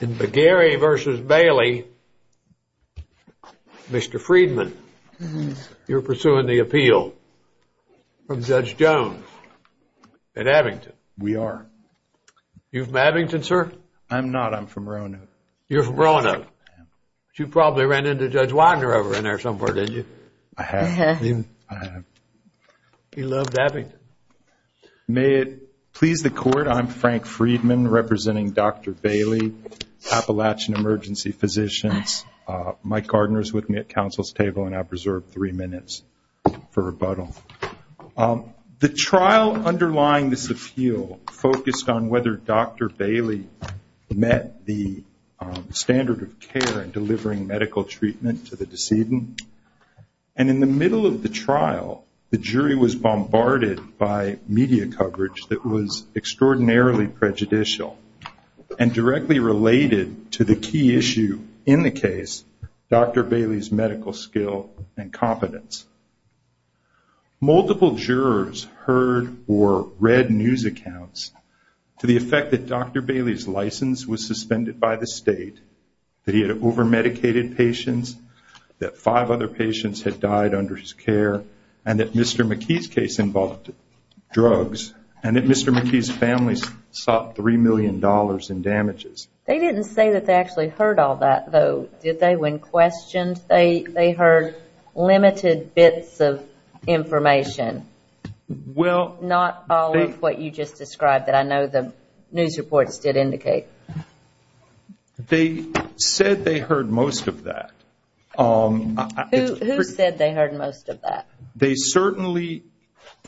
In Bagheri v. Bailey, Mr. Freedman, you're pursuing the appeal from Judge Jones at Abington. We are. Are you from Abington, sir? I'm not. I'm from Roanoke. You're from Roanoke. I am. You probably ran into Judge Wagner over in there somewhere, didn't you? I have. Uh-huh. I have. We love Abington. May it please the Court, I'm Frank Freedman representing Dr. Bailey, Appalachian Emergency Physicians. Mike Gardner is with me at Council's table, and I've reserved three minutes for rebuttal. The trial underlying this appeal focused on whether Dr. Bailey met the standard of care in delivering medical treatment to the decedent. And in the middle of the trial, the jury was bombarded by media coverage that was extraordinarily prejudicial and directly related to the key issue in the case, Dr. Bailey's medical skill and competence. Multiple jurors heard or read news accounts to the effect that Dr. Bailey's license was suspended by the state, that he had over-medicated patients, that five other patients had died under his care, and that Mr. McKee's case involved drugs, and that Mr. McKee's family sought $3 million in damages. They didn't say that they actually heard all that, though, did they, when questioned? They heard limited bits of information, not all of what you just described that I know the news reports did indicate. They said they heard most of that. Who said they heard most of that? They certainly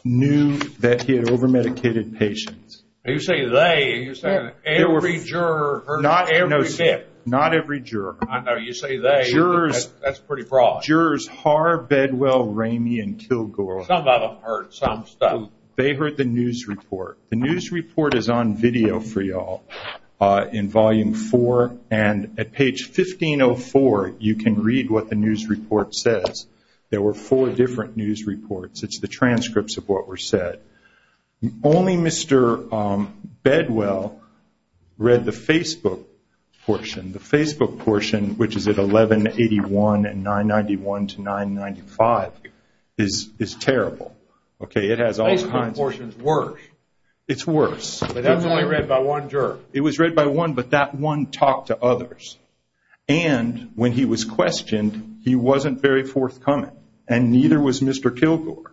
knew that he had over-medicated patients. You say they, and you're saying every juror heard that? Not every juror. I know, you say they, that's pretty broad. Jurors Har, Bedwell, Ramey, and Kilgore. Some of them heard some stuff. They heard the news report. The news report is on video for you all in volume four, and at page 1504, you can read what the news report says. There were four different news reports. It's the transcripts of what were said. Only Mr. Bedwell read the Facebook portion. The Facebook portion, which is at 1181 and 991 to 995, is terrible. The Facebook portion is worse. It's worse. But that's only read by one juror. It was read by one, but that one talked to others. And when he was questioned, he wasn't very forthcoming, and neither was Mr. Kilgore.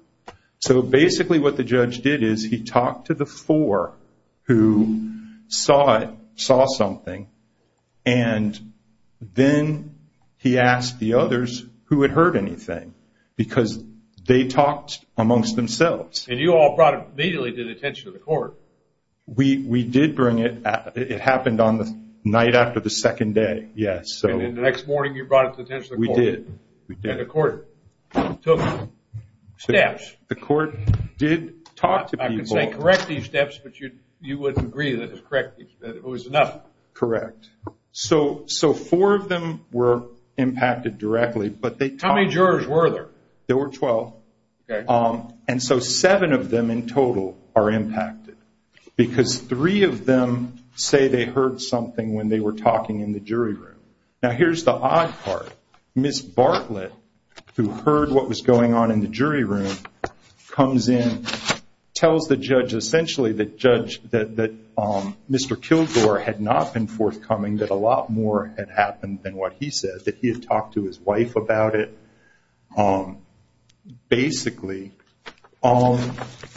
So basically what the judge did is he talked to the four who saw it, saw something, and then he asked the others who had heard anything because they talked amongst themselves. And you all brought it immediately to the attention of the court. We did bring it. It happened on the night after the second day, yes. And then the next morning you brought it to the attention of the court. We did. And the court took steps. The court did talk to people. I can say correct these steps, but you wouldn't agree that it was enough. Correct. So four of them were impacted directly. How many jurors were there? There were 12. Okay. And so seven of them in total are impacted because three of them say they heard something when they were talking in the jury room. Now here's the odd part. Ms. Bartlett, who heard what was going on in the jury room, comes in, tells the judge essentially that Mr. Kilgore had not been forthcoming, that a lot more had happened than what he said, that he had talked to his wife about it. Basically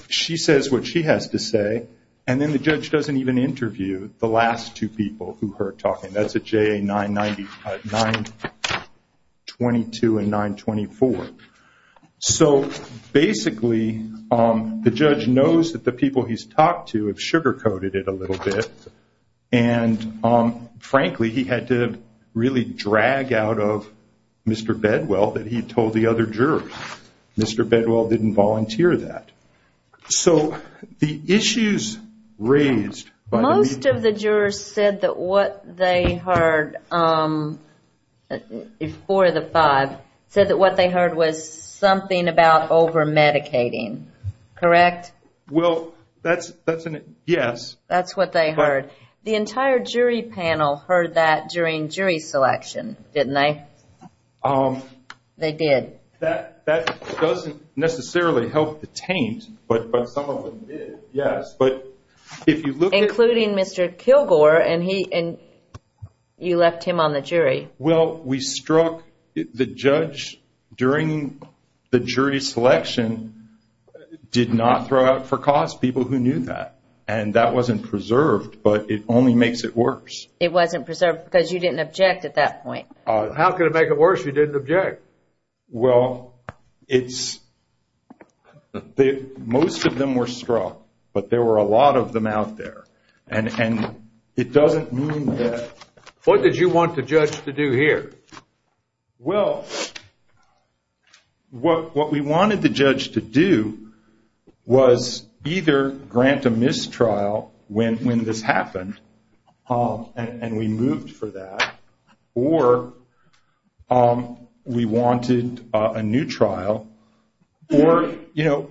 she says what she has to say, and then the judge doesn't even interview the last two people who heard talking. That's at JA 922 and 924. So basically the judge knows that the people he's talked to have sugar-coated it a little bit, and, frankly, he had to really drag out of Mr. Bedwell that he had told the other jurors. Mr. Bedwell didn't volunteer that. So the issues raised by the meeting. The jurors said that what they heard, four of the five, said that what they heard was something about over-medicating, correct? Well, that's a yes. That's what they heard. The entire jury panel heard that during jury selection, didn't they? They did. That doesn't necessarily help the taint, but some of them did, yes. Including Mr. Kilgore, and you left him on the jury. Well, we struck the judge during the jury selection, did not throw out for cause people who knew that, and that wasn't preserved, but it only makes it worse. It wasn't preserved because you didn't object at that point. How could it make it worse if you didn't object? Well, most of them were struck, but there were a lot of them out there, and it doesn't mean that. What did you want the judge to do here? Well, what we wanted the judge to do was either grant a mistrial when this happened, and we moved for that, or we wanted a new trial, or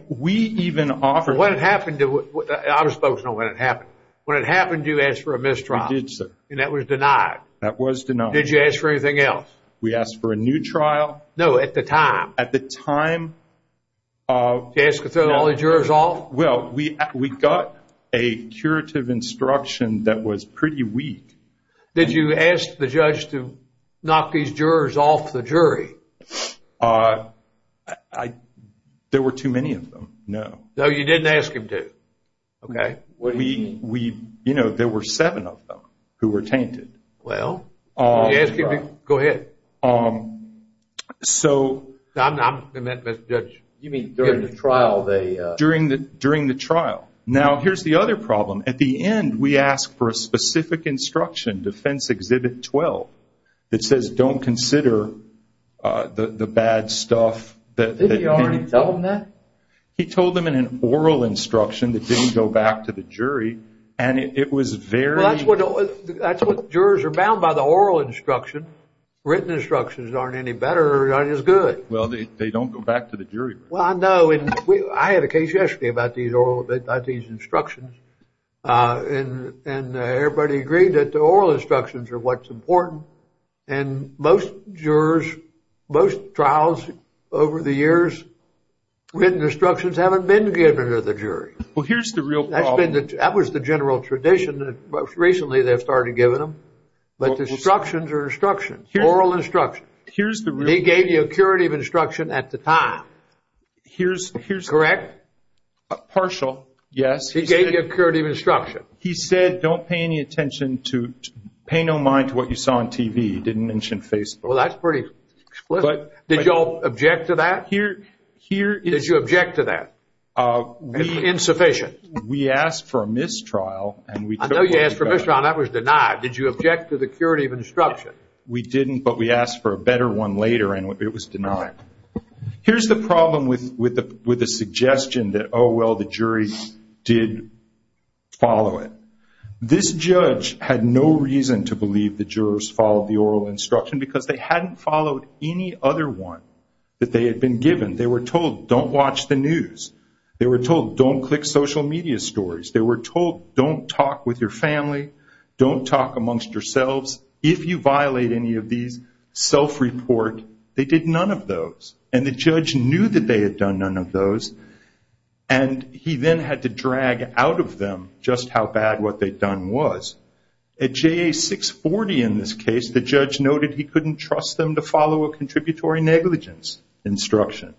we even offered- When it happened, I was focusing on when it happened. When it happened, you asked for a mistrial. We did, sir. And that was denied. That was denied. Did you ask for anything else? We asked for a new trial. No, at the time. At the time of- To ask to throw all the jurors off? Well, we got a curative instruction that was pretty weak. Did you ask the judge to knock these jurors off the jury? There were too many of them, no. No, you didn't ask him to? Okay. What do you mean? There were seven of them who were tainted. Well- Go ahead. So- I'm the judge. You mean during the trial, they- During the trial. Now, here's the other problem. At the end, we asked for a specific instruction, Defense Exhibit 12, that says don't consider the bad stuff that- Didn't he already tell them that? He told them in an oral instruction that didn't go back to the jury, and it was very- Well, that's what jurors are bound by, the oral instruction. Written instructions aren't any better or not as good. Well, they don't go back to the jury. Well, I know, and I had a case yesterday about these instructions, and everybody agreed that the oral instructions are what's important, and most jurors, most trials over the years, written instructions haven't been given to the jury. Well, here's the real problem. That was the general tradition that most recently they've started giving them, but the instructions are instructions, oral instructions. Here's the real problem. He gave you a curative instruction at the time. Here's- Correct? Partial, yes. He gave you a curative instruction. He said don't pay any attention to- pay no mind to what you saw on TV. He didn't mention Facebook. Well, that's pretty explicit. Did you all object to that? Here- Did you object to that? Insufficient. We asked for a mistrial, and we- I know you asked for a mistrial, and that was denied. Did you object to the curative instruction? We didn't, but we asked for a better one later, and it was denied. Here's the problem with the suggestion that, oh, well, the jury did follow it. This judge had no reason to believe the jurors followed the oral instruction because they hadn't followed any other one that they had been given. They were told don't watch the news. They were told don't click social media stories. They were told don't talk with your family. Don't talk amongst yourselves. If you violate any of these, self-report they did none of those, and the judge knew that they had done none of those, and he then had to drag out of them just how bad what they'd done was. At JA 640 in this case, the judge noted he couldn't trust them to follow a contributory negligence instruction.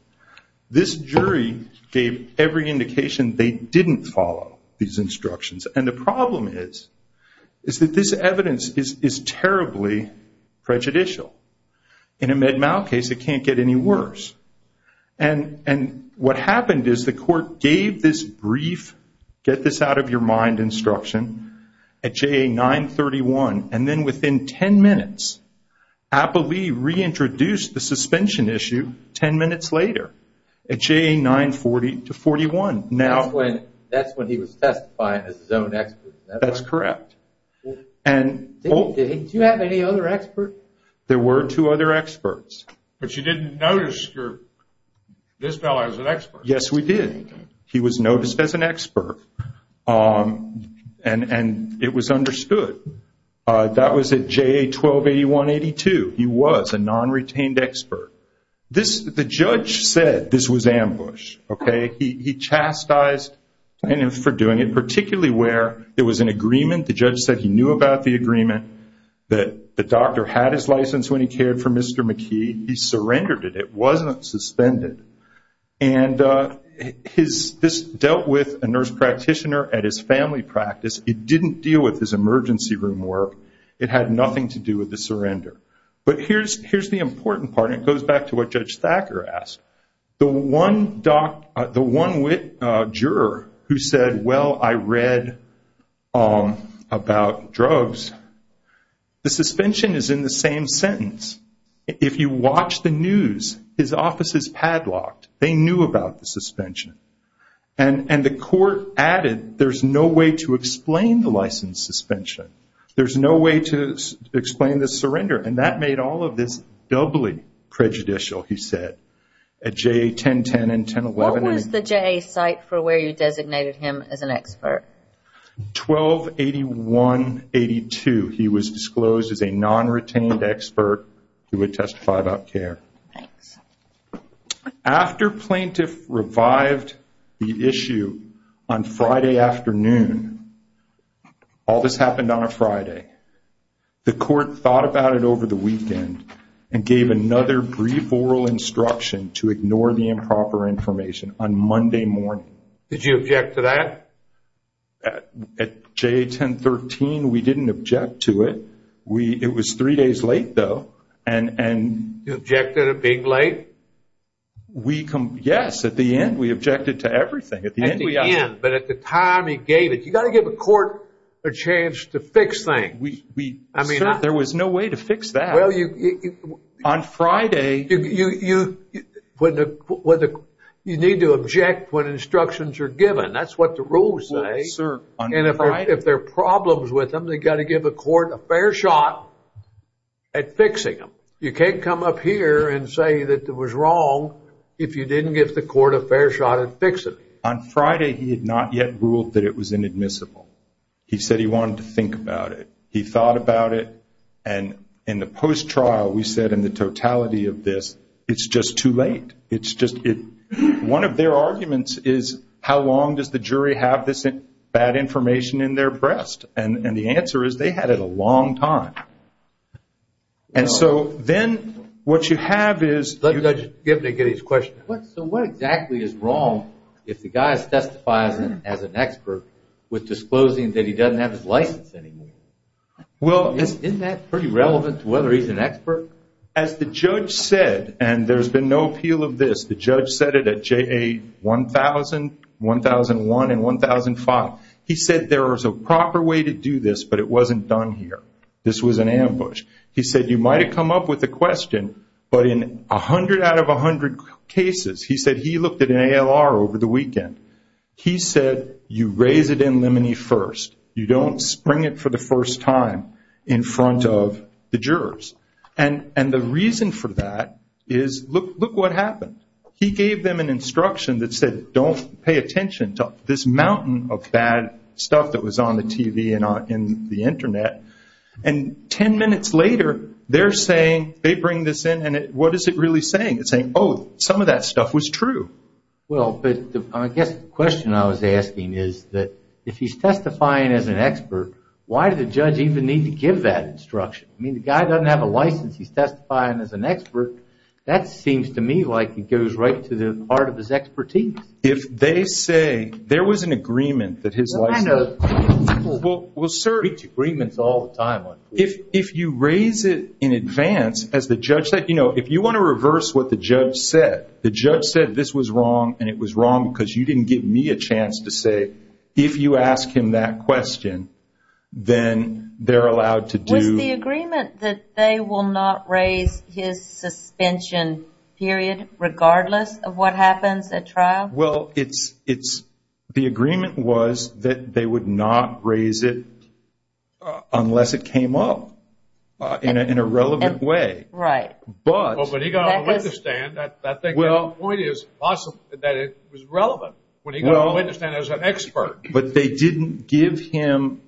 This jury gave every indication they didn't follow these instructions, and the problem is that this evidence is terribly prejudicial. In a Med-Mal case, it can't get any worse, and what happened is the court gave this brief get-this-out-of-your-mind instruction at JA 931, and then within 10 minutes, Appleby reintroduced the suspension issue 10 minutes later at JA 940 to 41. That's when he was testifying as his own expert. That's correct. Did he have any other expert? There were two other experts. But you didn't notice this fellow as an expert. Yes, we did. He was noticed as an expert, and it was understood. That was at JA 1281-82. He was a non-retained expert. The judge said this was ambush. He chastised plaintiffs for doing it, particularly where there was an agreement. The judge said he knew about the agreement, that the doctor had his license when he cared for Mr. McKee. He surrendered it. It wasn't suspended. And this dealt with a nurse practitioner at his family practice. It didn't deal with his emergency room work. It had nothing to do with the surrender. But here's the important part, and it goes back to what Judge Thacker asked. The one juror who said, well, I read about drugs, the suspension is in the same sentence. If you watch the news, his office is padlocked. They knew about the suspension. And the court added there's no way to explain the license suspension. There's no way to explain the surrender. And that made all of this doubly prejudicial, he said, at JA 1010 and 1011. What was the JA site for where you designated him as an expert? 1281-82. He was disclosed as a non-retained expert who would testify about care. Thanks. After plaintiff revived the issue on Friday afternoon, all this happened on a Friday, the court thought about it over the weekend and gave another brief oral instruction to ignore the improper information on Monday morning. Did you object to that? At JA 1013, we didn't object to it. It was three days late, though. You objected at being late? Yes. At the end, we objected to everything. At the end. But at the time he gave it. You've got to give a court a chance to fix things. Sir, there was no way to fix that. On Friday. You need to object when instructions are given. That's what the rules say. And if there are problems with them, they've got to give a court a fair shot at fixing them. You can't come up here and say that it was wrong if you didn't give the court a fair shot at fixing it. On Friday, he had not yet ruled that it was inadmissible. He said he wanted to think about it. He thought about it. And in the post-trial, we said in the totality of this, it's just too late. It's just one of their arguments is how long does the jury have this bad information in their breast? And the answer is they had it a long time. And so then what you have is. Let Judge Gibney get his question. So what exactly is wrong if the guy testifies as an expert with disclosing that he doesn't have his license anymore? Well, isn't that pretty relevant to whether he's an expert? As the judge said, and there's been no appeal of this, the judge said it at JA 1000, 1001, and 1005. He said there was a proper way to do this, but it wasn't done here. This was an ambush. He said you might have come up with a question, but in 100 out of 100 cases, he said he looked at an ALR over the weekend. He said you raise it in limine first. You don't spring it for the first time in front of the jurors. And the reason for that is look what happened. He gave them an instruction that said don't pay attention to this mountain of bad stuff that was on the TV and the Internet. And ten minutes later, they're saying, they bring this in, and what is it really saying? It's saying, oh, some of that stuff was true. Well, but I guess the question I was asking is that if he's testifying as an expert, why did the judge even need to give that instruction? I mean, the guy doesn't have a license. He's testifying as an expert. That seems to me like it goes right to the heart of his expertise. If they say there was an agreement that his license. We reach agreements all the time. If you raise it in advance, as the judge said, you know, if you want to reverse what the judge said, the judge said this was wrong and it was wrong because you didn't give me a chance to say if you ask him that question, then they're allowed to do. Is the agreement that they will not raise his suspension period regardless of what happens at trial? Well, the agreement was that they would not raise it unless it came up in a relevant way. Right. But he got on the witness stand. I think the point is that it was relevant when he got on the witness stand as an expert. But they didn't give him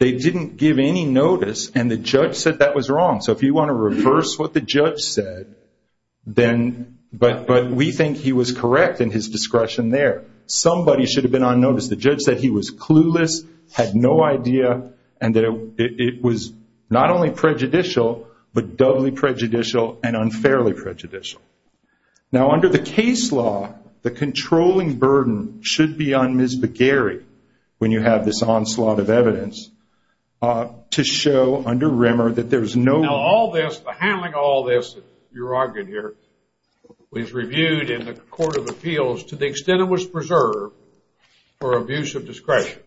any notice and the judge said that was wrong. So if you want to reverse what the judge said, but we think he was correct in his discretion there. Somebody should have been on notice. The judge said he was clueless, had no idea, and that it was not only prejudicial, but doubly prejudicial and unfairly prejudicial. Now under the case law, the controlling burden should be on Ms. Begary when you have this onslaught of evidence to show under Rimmer that there's no... Now all this, the handling of all this, you're arguing here, was reviewed in the Court of Appeals to the extent it was preserved for abuse of discretion.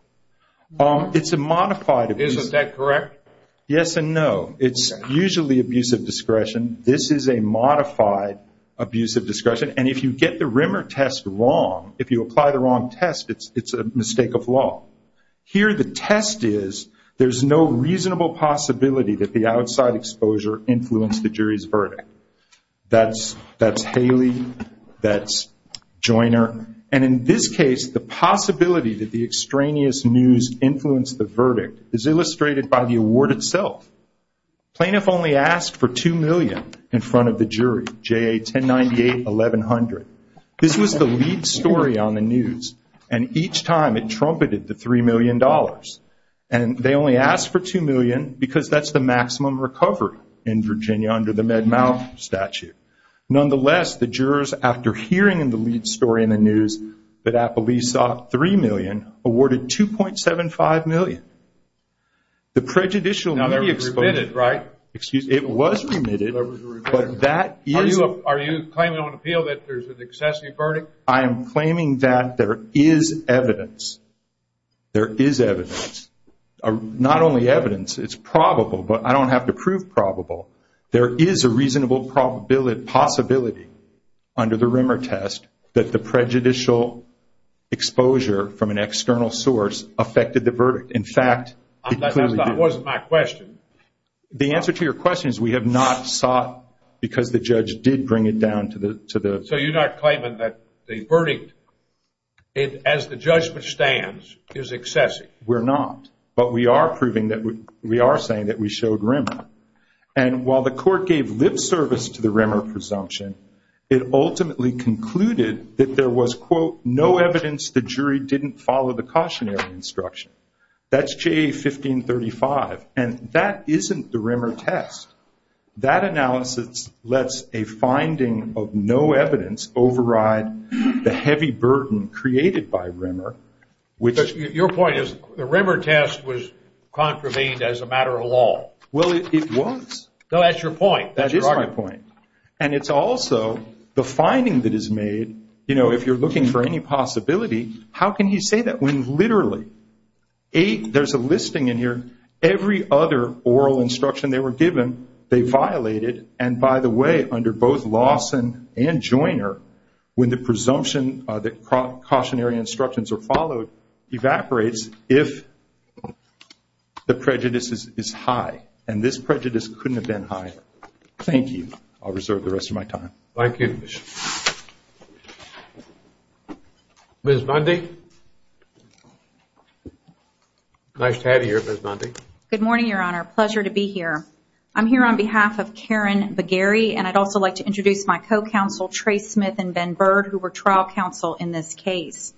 It's a modified... Isn't that correct? Yes and no. It's usually abuse of discretion. This is a modified abuse of discretion. And if you get the Rimmer test wrong, if you apply the wrong test, it's a mistake of law. Here the test is there's no reasonable possibility that the outside exposure influenced the jury's verdict. That's Haley. That's Joiner. And in this case, the possibility that the extraneous news influenced the verdict is illustrated by the award itself. Plaintiff only asked for $2 million in front of the jury, J.A. 1098-1100. This was the lead story on the news, and each time it trumpeted the $3 million. And they only asked for $2 million because that's the maximum recovery in Virginia under the Med-Mal statute. Nonetheless, the jurors, after hearing the lead story in the news that Appleby sought $3 million, awarded $2.75 million. The prejudicial media exposure. Now, they're remitted, right? Excuse me. It was remitted, but that is. Are you claiming on appeal that there's an excessive verdict? I am claiming that there is evidence. There is evidence. Not only evidence, it's probable, but I don't have to prove probable. There is a reasonable possibility under the Rimmer test that the prejudicial exposure from an external source affected the verdict. In fact, it clearly did. That wasn't my question. The answer to your question is we have not sought because the judge did bring it down to the – So you're not claiming that the verdict, as the judgment stands, is excessive. We're not. But we are proving that we – we are saying that we showed Rimmer. And while the court gave lip service to the Rimmer presumption, it ultimately concluded that there was, quote, no evidence the jury didn't follow the cautionary instruction. That's JA 1535. And that isn't the Rimmer test. That analysis lets a finding of no evidence override the heavy burden created by Rimmer, which – Your point is the Rimmer test was contravened as a matter of law. Well, it was. No, that's your point. That is my point. And it's also the finding that is made, you know, if you're looking for any possibility, how can he say that when literally eight – there's a listing in here. Every other oral instruction they were given, they violated. And, by the way, under both Lawson and Joiner, when the presumption that cautionary instructions are followed, evaporates if the prejudice is high. And this prejudice couldn't have been high. Thank you. I'll reserve the rest of my time. Thank you, Commissioner. Ms. Bundy. Nice to have you here, Ms. Bundy. Good morning, Your Honor. Pleasure to be here. I'm here on behalf of Karen Bagheri, and I'd also like to introduce my co-counsel, Trey Smith and Ben Bird, who were trial counsel in this case.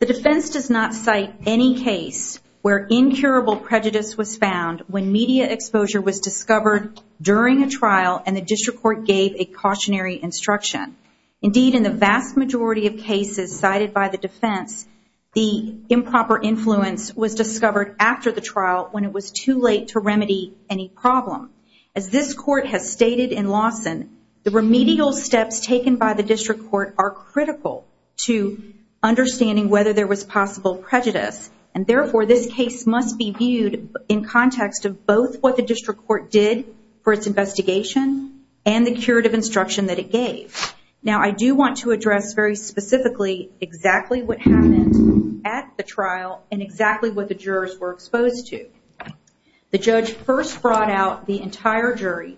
The defense does not cite any case where incurable prejudice was found when media exposure was discovered during a trial and the district court gave a cautionary instruction. Indeed, in the vast majority of cases cited by the defense, the improper influence was discovered after the trial when it was too late to remedy any problem. As this court has stated in Lawson, the remedial steps taken by the district court are critical to understanding whether there was possible prejudice, and therefore this case must be viewed in context of both what the district court did for its investigation and the curative instruction that it gave. Now, I do want to address very specifically exactly what happened at the trial and exactly what the jurors were exposed to. The judge first brought out the entire jury,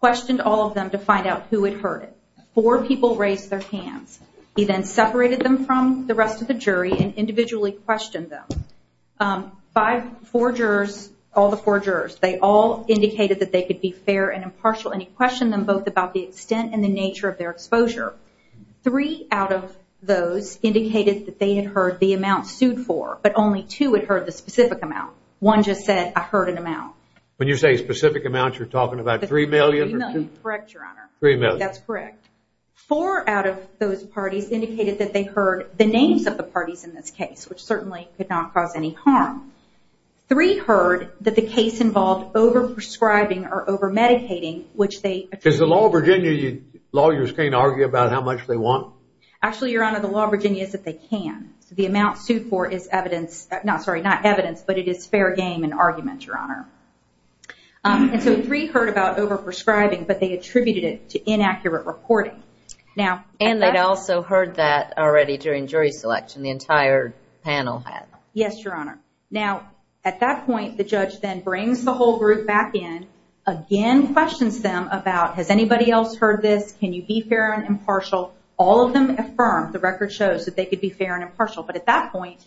questioned all of them to find out who had heard it. Four people raised their hands. He then separated them from the rest of the jury and individually questioned them. Five, four jurors, all the four jurors, they all indicated that they could be fair and impartial, and he questioned them both about the extent and the nature of their exposure. Three out of those indicated that they had heard the amount sued for, but only two had heard the specific amount. One just said, I heard an amount. When you say specific amount, you're talking about $3 million? $3 million, correct, Your Honor. $3 million. That's correct. Four out of those parties indicated that they heard the names of the parties in this case, which certainly could not cause any harm. Three heard that the case involved over-prescribing or over-medicating, which they— Because the law of Virginia, lawyers can't argue about how much they want. Actually, Your Honor, the law of Virginia is that they can. The amount sued for is evidence—not, sorry, not evidence, but it is fair game and argument, Your Honor. And so three heard about over-prescribing, but they attributed it to inaccurate reporting. And they'd also heard that already during jury selection, the entire panel had. Yes, Your Honor. Now, at that point, the judge then brings the whole group back in, again questions them about, has anybody else heard this? Can you be fair and impartial? All of them affirm, the record shows, that they could be fair and impartial. But at that point,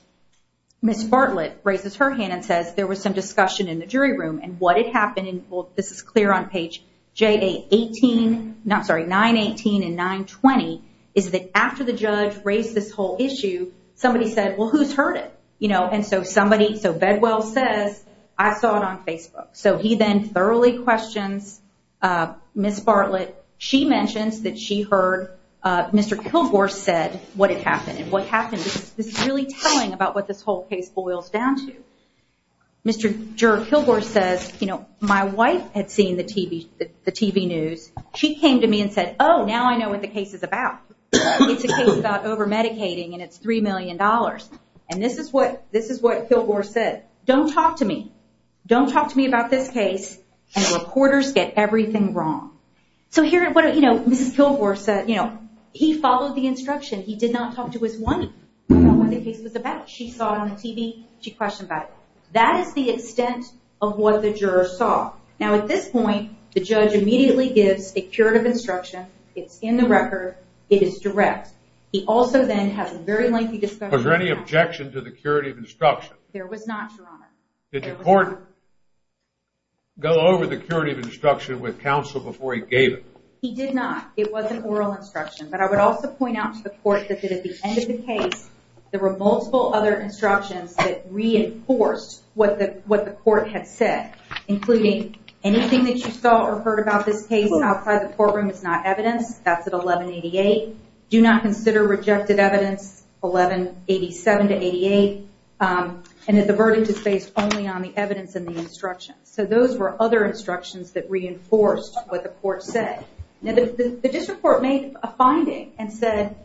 Ms. Bartlett raises her hand and says, there was some discussion in the jury room, and what had happened, and this is clear on page 918 and 920, is that after the judge raised this whole issue, somebody said, well, who's heard it? And so somebody—so Bedwell says, I saw it on Facebook. So he then thoroughly questions Ms. Bartlett. She mentions that she heard Mr. Kilgore said what had happened. This is really telling about what this whole case boils down to. Mr. Kilgore says, you know, my wife had seen the TV news. She came to me and said, oh, now I know what the case is about. It's a case about over-medicating, and it's $3 million. And this is what Kilgore said. Don't talk to me. Don't talk to me about this case, and reporters get everything wrong. So here, you know, Mrs. Kilgore said, you know, he followed the instruction. He did not talk to his wife about what the case was about. She saw it on the TV. She questioned about it. That is the extent of what the jurors saw. Now, at this point, the judge immediately gives a curative instruction. It's in the record. It is direct. He also then has a very lengthy discussion. Was there any objection to the curative instruction? There was not, Your Honor. Did the court go over the curative instruction with counsel before he gave it? He did not. It was an oral instruction. But I would also point out to the court that at the end of the case, there were multiple other instructions that reinforced what the court had said, including anything that you saw or heard about this case outside the courtroom is not evidence. That's at 1188. Do not consider rejected evidence, 1187 to 88. And that the verdict is based only on the evidence and the instructions. So those were other instructions that reinforced what the court said. Now, the district court made a finding and said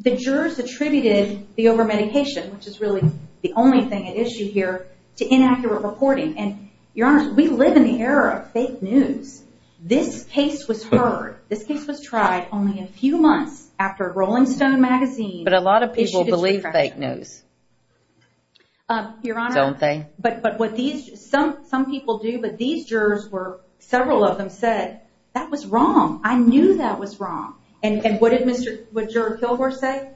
the jurors attributed the overmedication, which is really the only thing at issue here, to inaccurate reporting. And, Your Honor, we live in the era of fake news. This case was heard. This case was tried only a few months after Rolling Stone magazine issued a correction. But a lot of people believe fake news, don't they? Your Honor, some people do. But these jurors were, several of them said, that was wrong. I knew that was wrong. And what did Juror Kilgore say?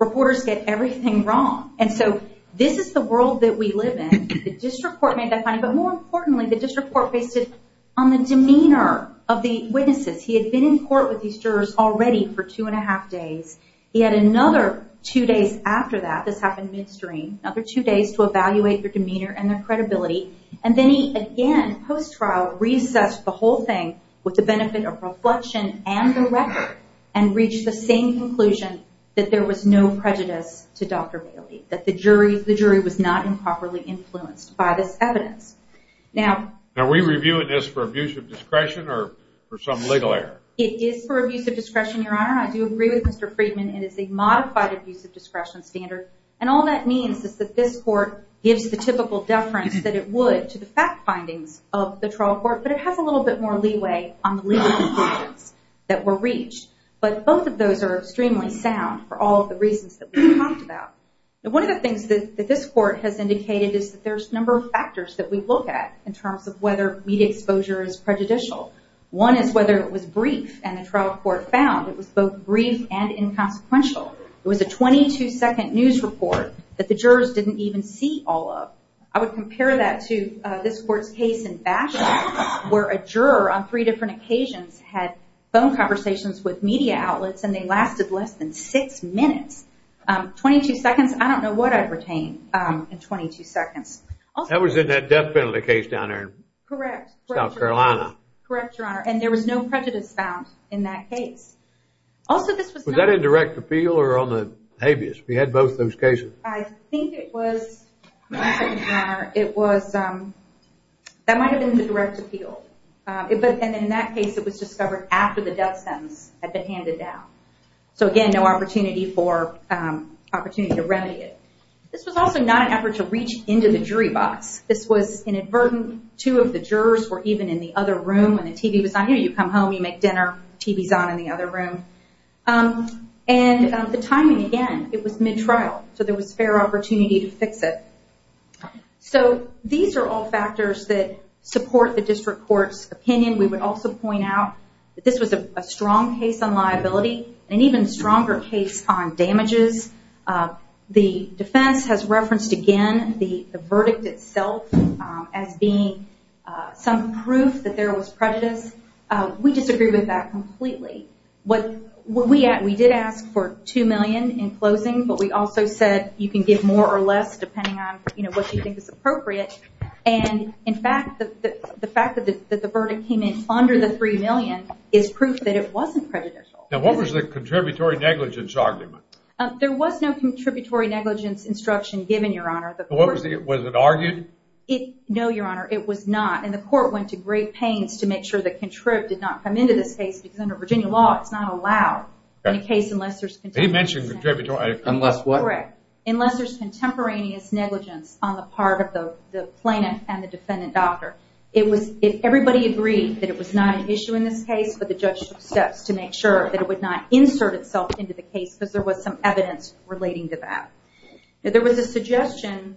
Reporters get everything wrong. And so this is the world that we live in. The district court made that finding. But more importantly, the district court based it on the demeanor of the witnesses. He had been in court with these jurors already for two and a half days. He had another two days after that, this happened midstream, another two days to evaluate their demeanor and their credibility. And then he, again, post-trial, reassessed the whole thing with the benefit of reflection and the record, and reached the same conclusion that there was no prejudice to Dr. Bailey. That the jury was not improperly influenced by this evidence. Now, Are we reviewing this for abuse of discretion or for some legal error? It is for abuse of discretion, Your Honor. I do agree with Mr. Friedman. It is a modified abuse of discretion standard. And all that means is that this court gives the typical deference that it would to the fact findings of the trial court, but it has a little bit more leeway on the legal conclusions that were reached. But both of those are extremely sound for all of the reasons that we talked about. One of the things that this court has indicated is that there's a number of factors that we look at in terms of whether media exposure is prejudicial. One is whether it was brief and the trial court found it was both brief and inconsequential. It was a 22 second news report that the jurors didn't even see all of. I would compare that to this court's case in Bachelor, where a juror on three different occasions had phone conversations with media outlets and they lasted less than six minutes. 22 seconds. I don't know what I'd retain in 22 seconds. That was in that death penalty case down there. Correct. South Carolina. Correct, Your Honor. And there was no prejudice found in that case. Was that indirect appeal or on the habeas? We had both those cases. I think it was, Your Honor, that might have been the direct appeal. And in that case it was discovered after the death sentence had been handed down. So, again, no opportunity to remedy it. This was also not an effort to reach into the jury box. This was inadvertent. Two of the jurors were even in the other room when the TV was on. You come home, you make dinner, TV's on in the other room. And the timing, again, it was mid-trial. So there was fair opportunity to fix it. So these are all factors that support the district court's opinion. We would also point out that this was a strong case on liability, an even stronger case on damages. The defense has referenced, again, the verdict itself as being some proof that there was prejudice. We disagree with that completely. We did ask for $2 million in closing, but we also said you can give more or less depending on what you think is appropriate. And, in fact, the fact that the verdict came in under the $3 million is proof that it wasn't prejudicial. Now what was the contributory negligence argument? There was no contributory negligence instruction given, Your Honor. Was it argued? No, Your Honor, it was not. And the court went to great pains to make sure the contrib did not come into this case because under Virginia law it's not allowed in a case unless there's contributory negligence. He mentioned contributory. Unless what? Correct. Unless there's contemporaneous negligence on the part of the plaintiff and the defendant doctor. Everybody agreed that it was not an issue in this case, but the judge took steps to make sure that it would not insert itself into the case because there was some evidence relating to that. There was a suggestion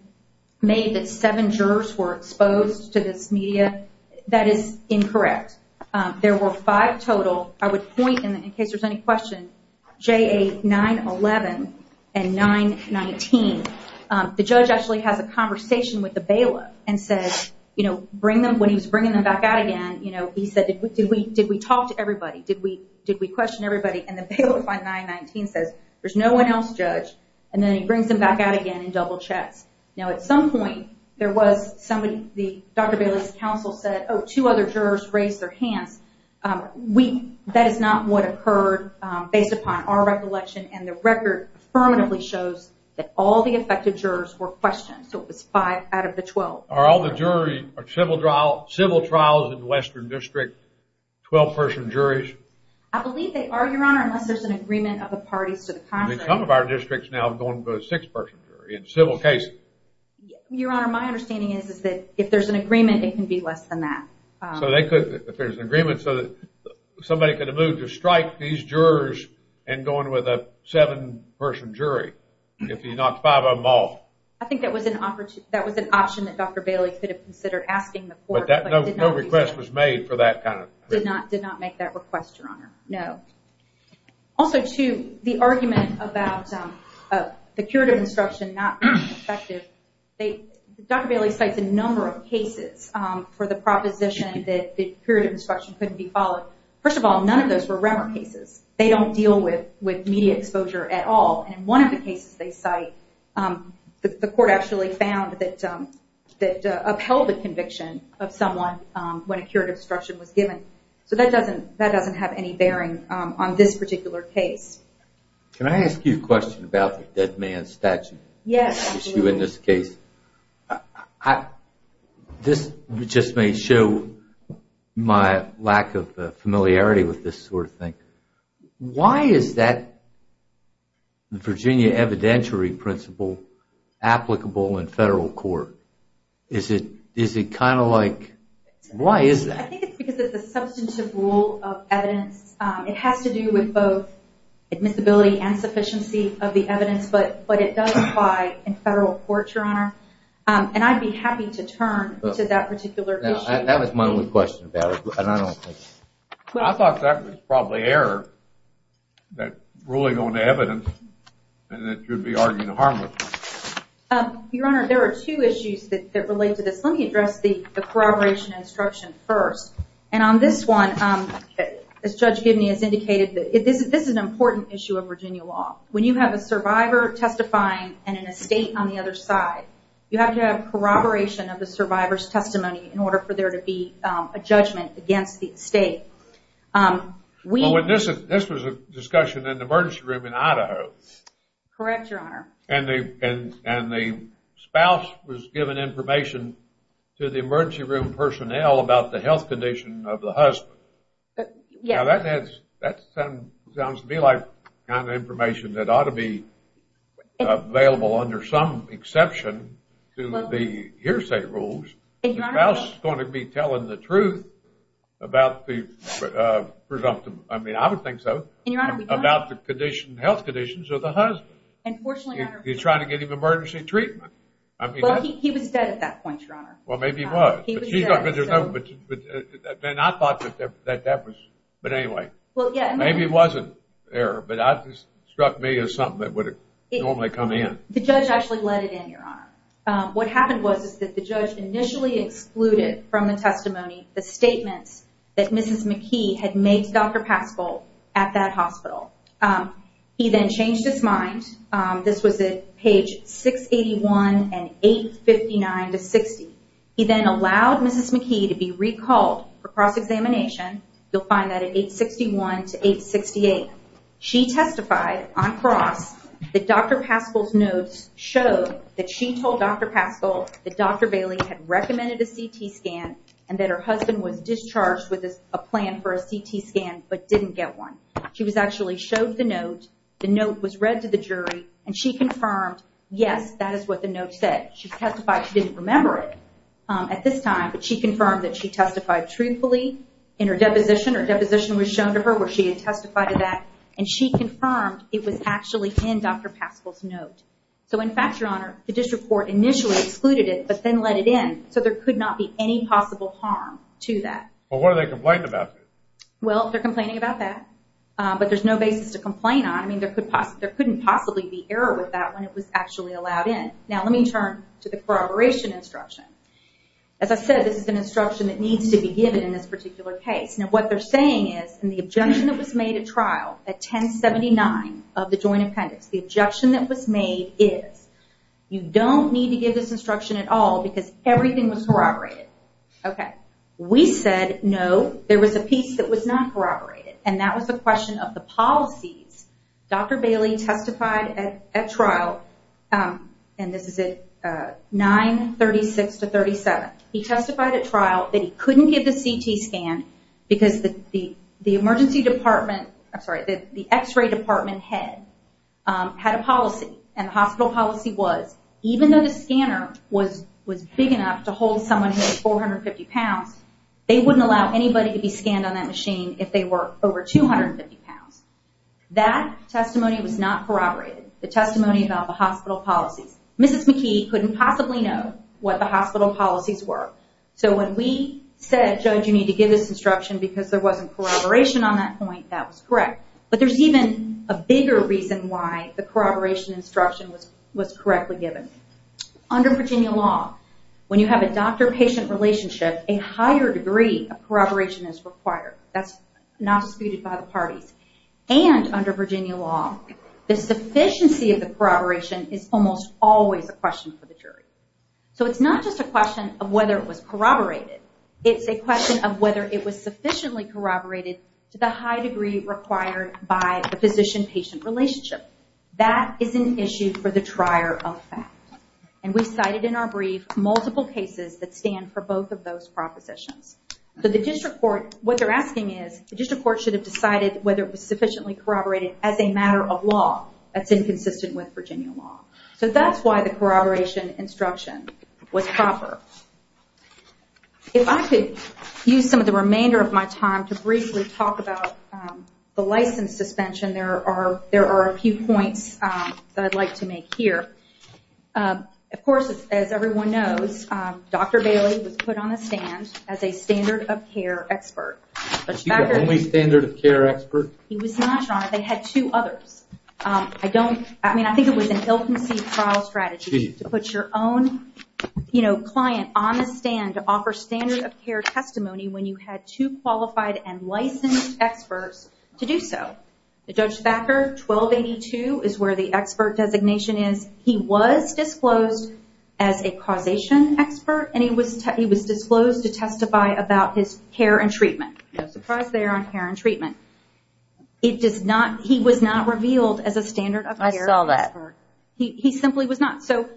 made that seven jurors were exposed to this media. That is incorrect. There were five total. I would point, in case there's any question, J.A. 9-11 and 9-19. The judge actually has a conversation with the bailiff and says, when he was bringing them back out again, he said, did we talk to everybody? Did we question everybody? And the bailiff on 9-19 says, there's no one else, judge. And then he brings them back out again and double checks. Now at some point there was somebody, Dr. Bailey's counsel said, oh, two other jurors raised their hands. That is not what occurred based upon our recollection, and the record affirmatively shows that all the affected jurors were questioned, so it was five out of the 12. Are all the jury or civil trials in the Western District 12-person juries? I believe they are, Your Honor, unless there's an agreement of the parties to the contract. I mean, some of our districts now have gone to a six-person jury in civil cases. Your Honor, my understanding is that if there's an agreement, it can be less than that. So they could, if there's an agreement, so that somebody could have moved to strike these jurors and gone with a seven-person jury if you knocked five of them off? I think that was an option that Dr. Bailey could have considered asking the court, but did not do so. But no request was made for that kind of thing? Did not make that request, Your Honor, no. Also, too, the argument about the curative instruction not being effective, Dr. Bailey cites a number of cases for the proposition that the curative instruction couldn't be followed. First of all, none of those were Remmer cases. They don't deal with media exposure at all. And in one of the cases they cite, the court actually found that upheld the conviction of someone when a curative instruction was given. So that doesn't have any bearing on this particular case. Can I ask you a question about the dead man statute? Yes. This issue in this case. This just may show my lack of familiarity with this sort of thing. Why is that Virginia evidentiary principle applicable in federal court? Is it kind of like, why is that? I think it's because it's a substantive rule of evidence. It has to do with both admissibility and sufficiency of the evidence, but it does apply in federal court, Your Honor. And I'd be happy to turn to that particular issue. That was my only question about it. I thought that was probably error, that ruling on the evidence, and that you would be arguing harmlessly. Your Honor, there are two issues that relate to this. Let me address the corroboration instruction first. And on this one, as Judge Gibney has indicated, this is an important issue of Virginia law. When you have a survivor testifying and an estate on the other side, you have to have corroboration of the survivor's testimony in order for there to be a judgment against the estate. This was a discussion in the emergency room in Idaho. Correct, Your Honor. And the spouse was giving information to the emergency room personnel about the health condition of the husband. Now, that sounds to me like kind of information that ought to be available under some exception to the hearsay rules. The spouse is going to be telling the truth about the presumptive, I mean, I would think so, about the health conditions of the husband. He's trying to get him emergency treatment. Well, he was dead at that point, Your Honor. Well, maybe he was. Then I thought that that was, but anyway. Maybe it wasn't there, but that struck me as something that would normally come in. The judge actually let it in, Your Honor. What happened was that the judge initially excluded from the testimony the statements that Mrs. McKee had made to Dr. Paschal at that hospital. He then changed his mind. This was at page 681 and 859 to 60. He then allowed Mrs. McKee to be recalled for cross-examination. You'll find that at 861 to 868. She testified on cross that Dr. Paschal's notes showed that she told Dr. Paschal that Dr. Bailey had recommended a CT scan and that her husband was discharged with a plan for a CT scan but didn't get one. She actually showed the note. The note was read to the jury, and she confirmed, yes, that is what the note said. She testified she didn't remember it at this time, but she confirmed that she testified truthfully in her deposition. Her deposition was shown to her where she had testified to that, and she confirmed it was actually in Dr. Paschal's note. In fact, Your Honor, the district court initially excluded it but then let it in, so there could not be any possible harm to that. What are they complaining about? They're complaining about that, but there's no basis to complain on. There couldn't possibly be error with that when it was actually allowed in. Now let me turn to the corroboration instruction. As I said, this is an instruction that needs to be given in this particular case. What they're saying is in the objection that was made at trial at 1079 of the joint appendix, the objection that was made is you don't need to give this instruction at all because everything was corroborated. We said no, there was a piece that was not corroborated, and that was the question of the policies. Dr. Bailey testified at trial, and this is at 936 to 937, he testified at trial that he couldn't give the CT scan because the emergency department, I'm sorry, the x-ray department head had a policy, and the hospital policy was even though the scanner was big enough to hold someone who was 450 pounds, they wouldn't allow anybody to be scanned on that machine if they were over 250 pounds. That testimony was not corroborated. The testimony about the hospital policies. Mrs. McKee couldn't possibly know what the hospital policies were. So when we said, Judge, you need to give this instruction because there wasn't corroboration on that point, that was correct. But there's even a bigger reason why the corroboration instruction was correctly given. Under Virginia law, when you have a doctor-patient relationship, a higher degree of corroboration is required. That's not disputed by the parties. And under Virginia law, the sufficiency of the corroboration is almost always a question for the jury. So it's not just a question of whether it was corroborated, it's a question of whether it was sufficiently corroborated to the high degree required by the physician-patient relationship. That is an issue for the trier of fact. And we cited in our brief multiple cases that stand for both of those propositions. What they're asking is, the district court should have decided whether it was sufficiently corroborated as a matter of law that's inconsistent with Virginia law. So that's why the corroboration instruction was proper. If I could use some of the remainder of my time to briefly talk about the license suspension, there are a few points that I'd like to make here. Of course, as everyone knows, Dr. Bailey was put on the stand as a standard of care expert. Was he the only standard of care expert? He was not, Your Honor. They had two others. I mean, I think it was an ill-conceived trial strategy to put your own client on the stand to offer standard of care testimony when you had two qualified and licensed experts to do so. Judge Thacker, 1282, is where the expert designation is. He was disclosed as a causation expert, and he was disclosed to testify about his care and treatment. No surprise there on care and treatment. He was not revealed as a standard of care expert. I saw that. He simply was not. So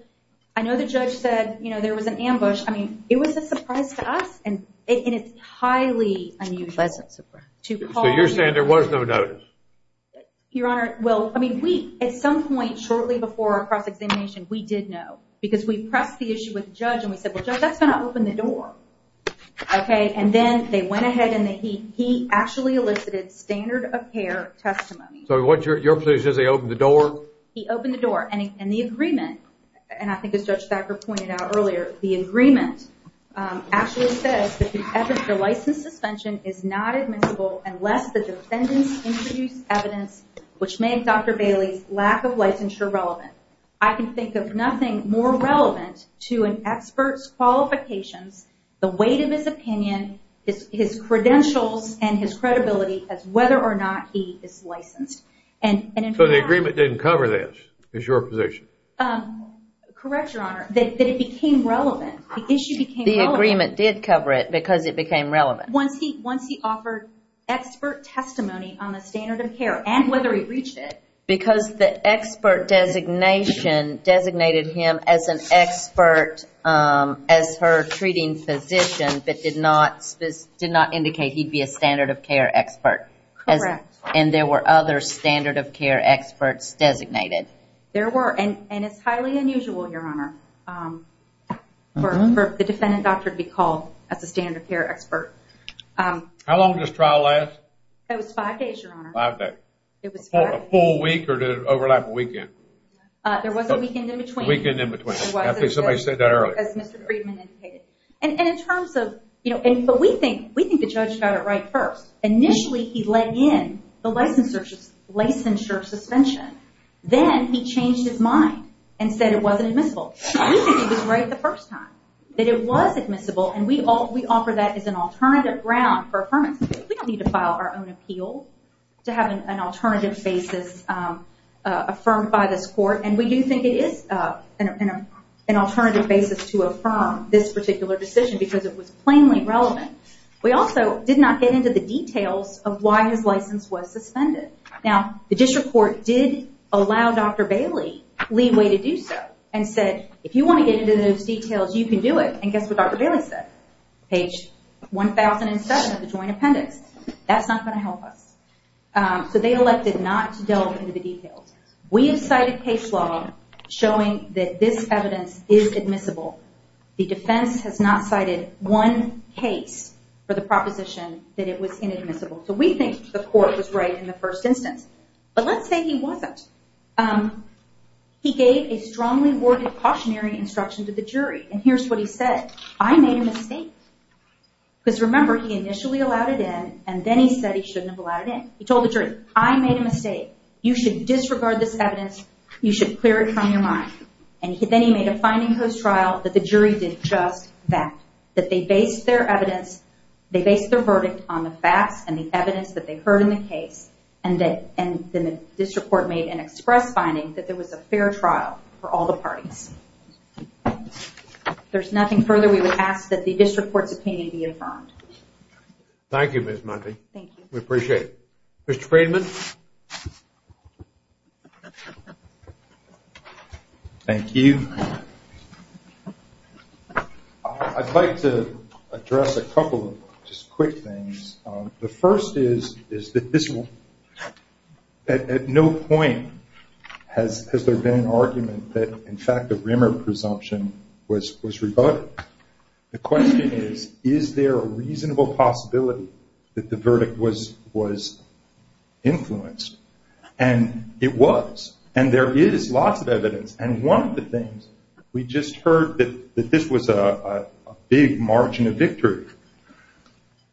I know the judge said there was an ambush. I mean, it was a surprise to us, and it's highly unusual. A pleasant surprise. So you're saying there was no notice? Your Honor, well, at some point shortly before our cross-examination, we did know. Because we pressed the issue with the judge, and we said, Well, Judge, that's going to open the door. Okay? And then they went ahead, and he actually elicited standard of care testimony. So what, your position is he opened the door? He opened the door. And the agreement, and I think as Judge Thacker pointed out earlier, the agreement actually says that the license suspension is not admissible unless the defendants introduce evidence which made Dr. Bailey's lack of licensure relevant. I can think of nothing more relevant to an expert's qualifications, the weight of his opinion, his credentials, and his credibility as whether or not he is licensed. So the agreement didn't cover this, is your position? Correct, your Honor, that it became relevant. The issue became relevant. The agreement did cover it because it became relevant. Once he offered expert testimony on the standard of care and whether he reached it. Because the expert designation designated him as an expert as her treating physician but did not indicate he'd be a standard of care expert. Correct. And there were other standard of care experts designated. There were, and it's highly unusual, your Honor, for the defendant doctor to be called as a standard of care expert. How long did this trial last? It was five days, your Honor. Five days. A full week or did it overlap a weekend? There was a weekend in between. A weekend in between. I think somebody said that earlier. As Mr. Friedman indicated. And in terms of, you know, but we think the judge got it right first. Initially he let in the licensure suspension. Then he changed his mind and said it wasn't admissible. We think he was right the first time, that it was admissible, and we offer that as an alternative ground for affirmation. We don't need to file our own appeal to have an alternative basis affirmed by this court, and we do think it is an alternative basis to affirm this particular decision because it was plainly relevant. We also did not get into the details of why his license was suspended. Now, the district court did allow Dr. Bailey leeway to do so and said if you want to get into those details, you can do it. And guess what Dr. Bailey said? Page 1007 of the joint appendix. That's not going to help us. So they elected not to delve into the details. We have cited case law showing that this evidence is admissible. The defense has not cited one case for the proposition that it was inadmissible. So we think the court was right in the first instance. But let's say he wasn't. He gave a strongly worded cautionary instruction to the jury, and here's what he said. I made a mistake. Because remember, he initially allowed it in, and then he said he shouldn't have allowed it in. He told the jury, I made a mistake. You should disregard this evidence. You should clear it from your mind. And then he made a finding post-trial that the jury did just that, that they based their evidence, they based their verdict on the facts and the evidence that they heard in the case, and then the district court made an express finding that there was a fair trial for all the parties. If there's nothing further, we would ask that the district court's opinion be affirmed. Thank you, Ms. Mundy. Thank you. We appreciate it. Mr. Friedman? Thank you. I'd like to address a couple of just quick things. The first is that at no point has there been an argument that, in fact, the Rimmer presumption was rebutted. The question is, is there a reasonable possibility that the verdict was influenced? And it was. And there is lots of evidence. And one of the things, we just heard that this was a big margin of victory.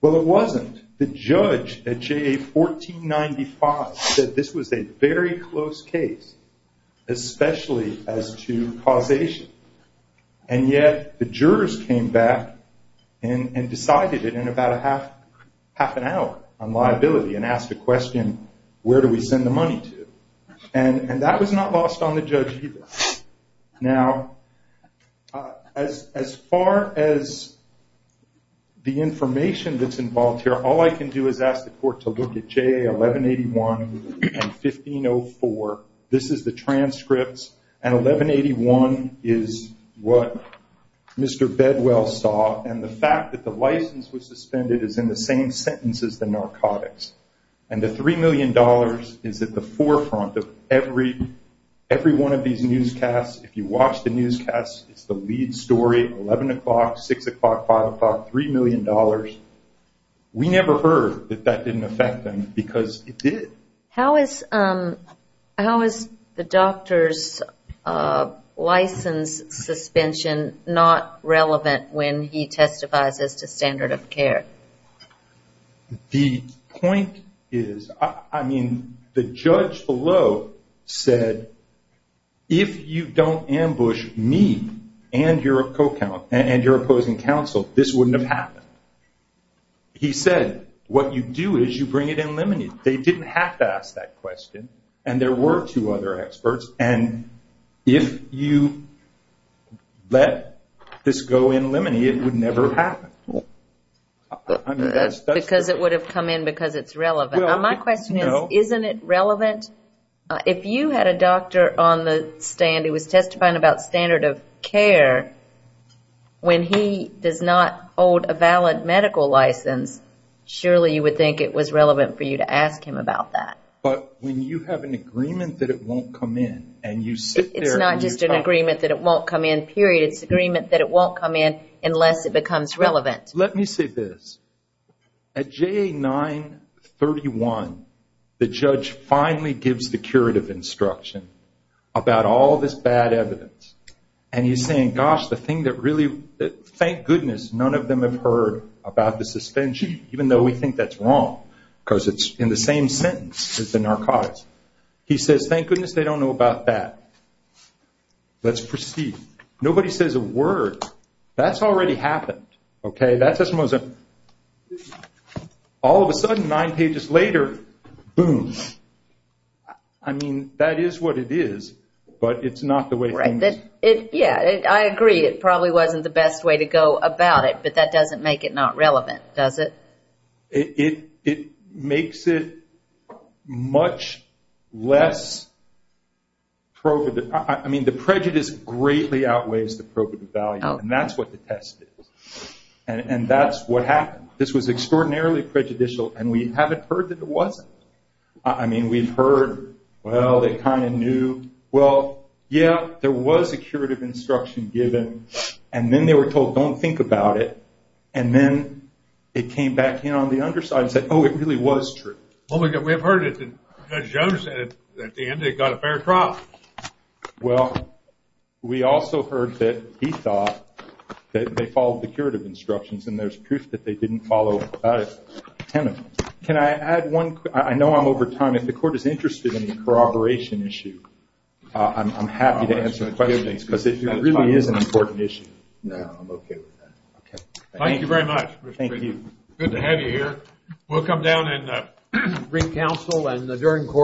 Well, it wasn't. The judge at JA 1495 said this was a very close case, especially as to causation. And yet the jurors came back and decided it in about half an hour on liability and asked a question, where do we send the money to? And that was not lost on the judge either. Now, as far as the information that's involved here, all I can do is ask the court to look at JA 1181 and 1504. This is the transcripts. And 1181 is what Mr. Bedwell saw. And the fact that the license was suspended is in the same sentence as the narcotics. And the $3 million is at the forefront of every one of these newscasts. If you watch the newscasts, it's the lead story, 11 o'clock, 6 o'clock, 5 o'clock, $3 million. We never heard that that didn't affect them because it did. How is the doctor's license suspension not relevant when he testifies as to standard of care? The point is, I mean, the judge below said, if you don't ambush me and your opposing counsel, this wouldn't have happened. He said, what you do is you bring it in limine. They didn't have to ask that question, and there were two other experts. And if you let this go in limine, it would never have happened. Because it would have come in because it's relevant. My question is, isn't it relevant? If you had a doctor on the stand who was testifying about standard of care, when he does not hold a valid medical license, surely you would think it was relevant for you to ask him about that. But when you have an agreement that it won't come in and you sit there and you talk. It's not just an agreement that it won't come in, period. It's an agreement that it won't come in unless it becomes relevant. Let me say this. At JA 931, the judge finally gives the curative instruction about all this bad evidence. And he's saying, gosh, the thing that really, thank goodness none of them have heard about the suspension, even though we think that's wrong because it's in the same sentence as the narcotics. He says, thank goodness they don't know about that. Let's proceed. Nobody says a word. That's already happened, okay? That doesn't mean that all of a sudden, nine pages later, boom. I mean, that is what it is, but it's not the way it is. Yeah, I agree. It probably wasn't the best way to go about it, but that doesn't make it not relevant, does it? It makes it much less provident. I mean, the prejudice greatly outweighs the provident value, and that's what the test is. And that's what happened. This was extraordinarily prejudicial, and we haven't heard that it wasn't. I mean, we've heard, well, they kind of knew. Well, yeah, there was a curative instruction given, and then they were told, don't think about it. And then it came back in on the underside and said, oh, it really was true. Well, we have heard it. Judge Jones said at the end they got a fair trial. Well, we also heard that he thought that they followed the curative instructions, and there's proof that they didn't follow it. Can I add one? I know I'm over time. If the Court is interested in the corroboration issue, I'm happy to answer questions, because it really is an important issue. No, I'm okay with that. Okay. Thank you very much. Thank you. Good to have you here. We'll come down and reconcile.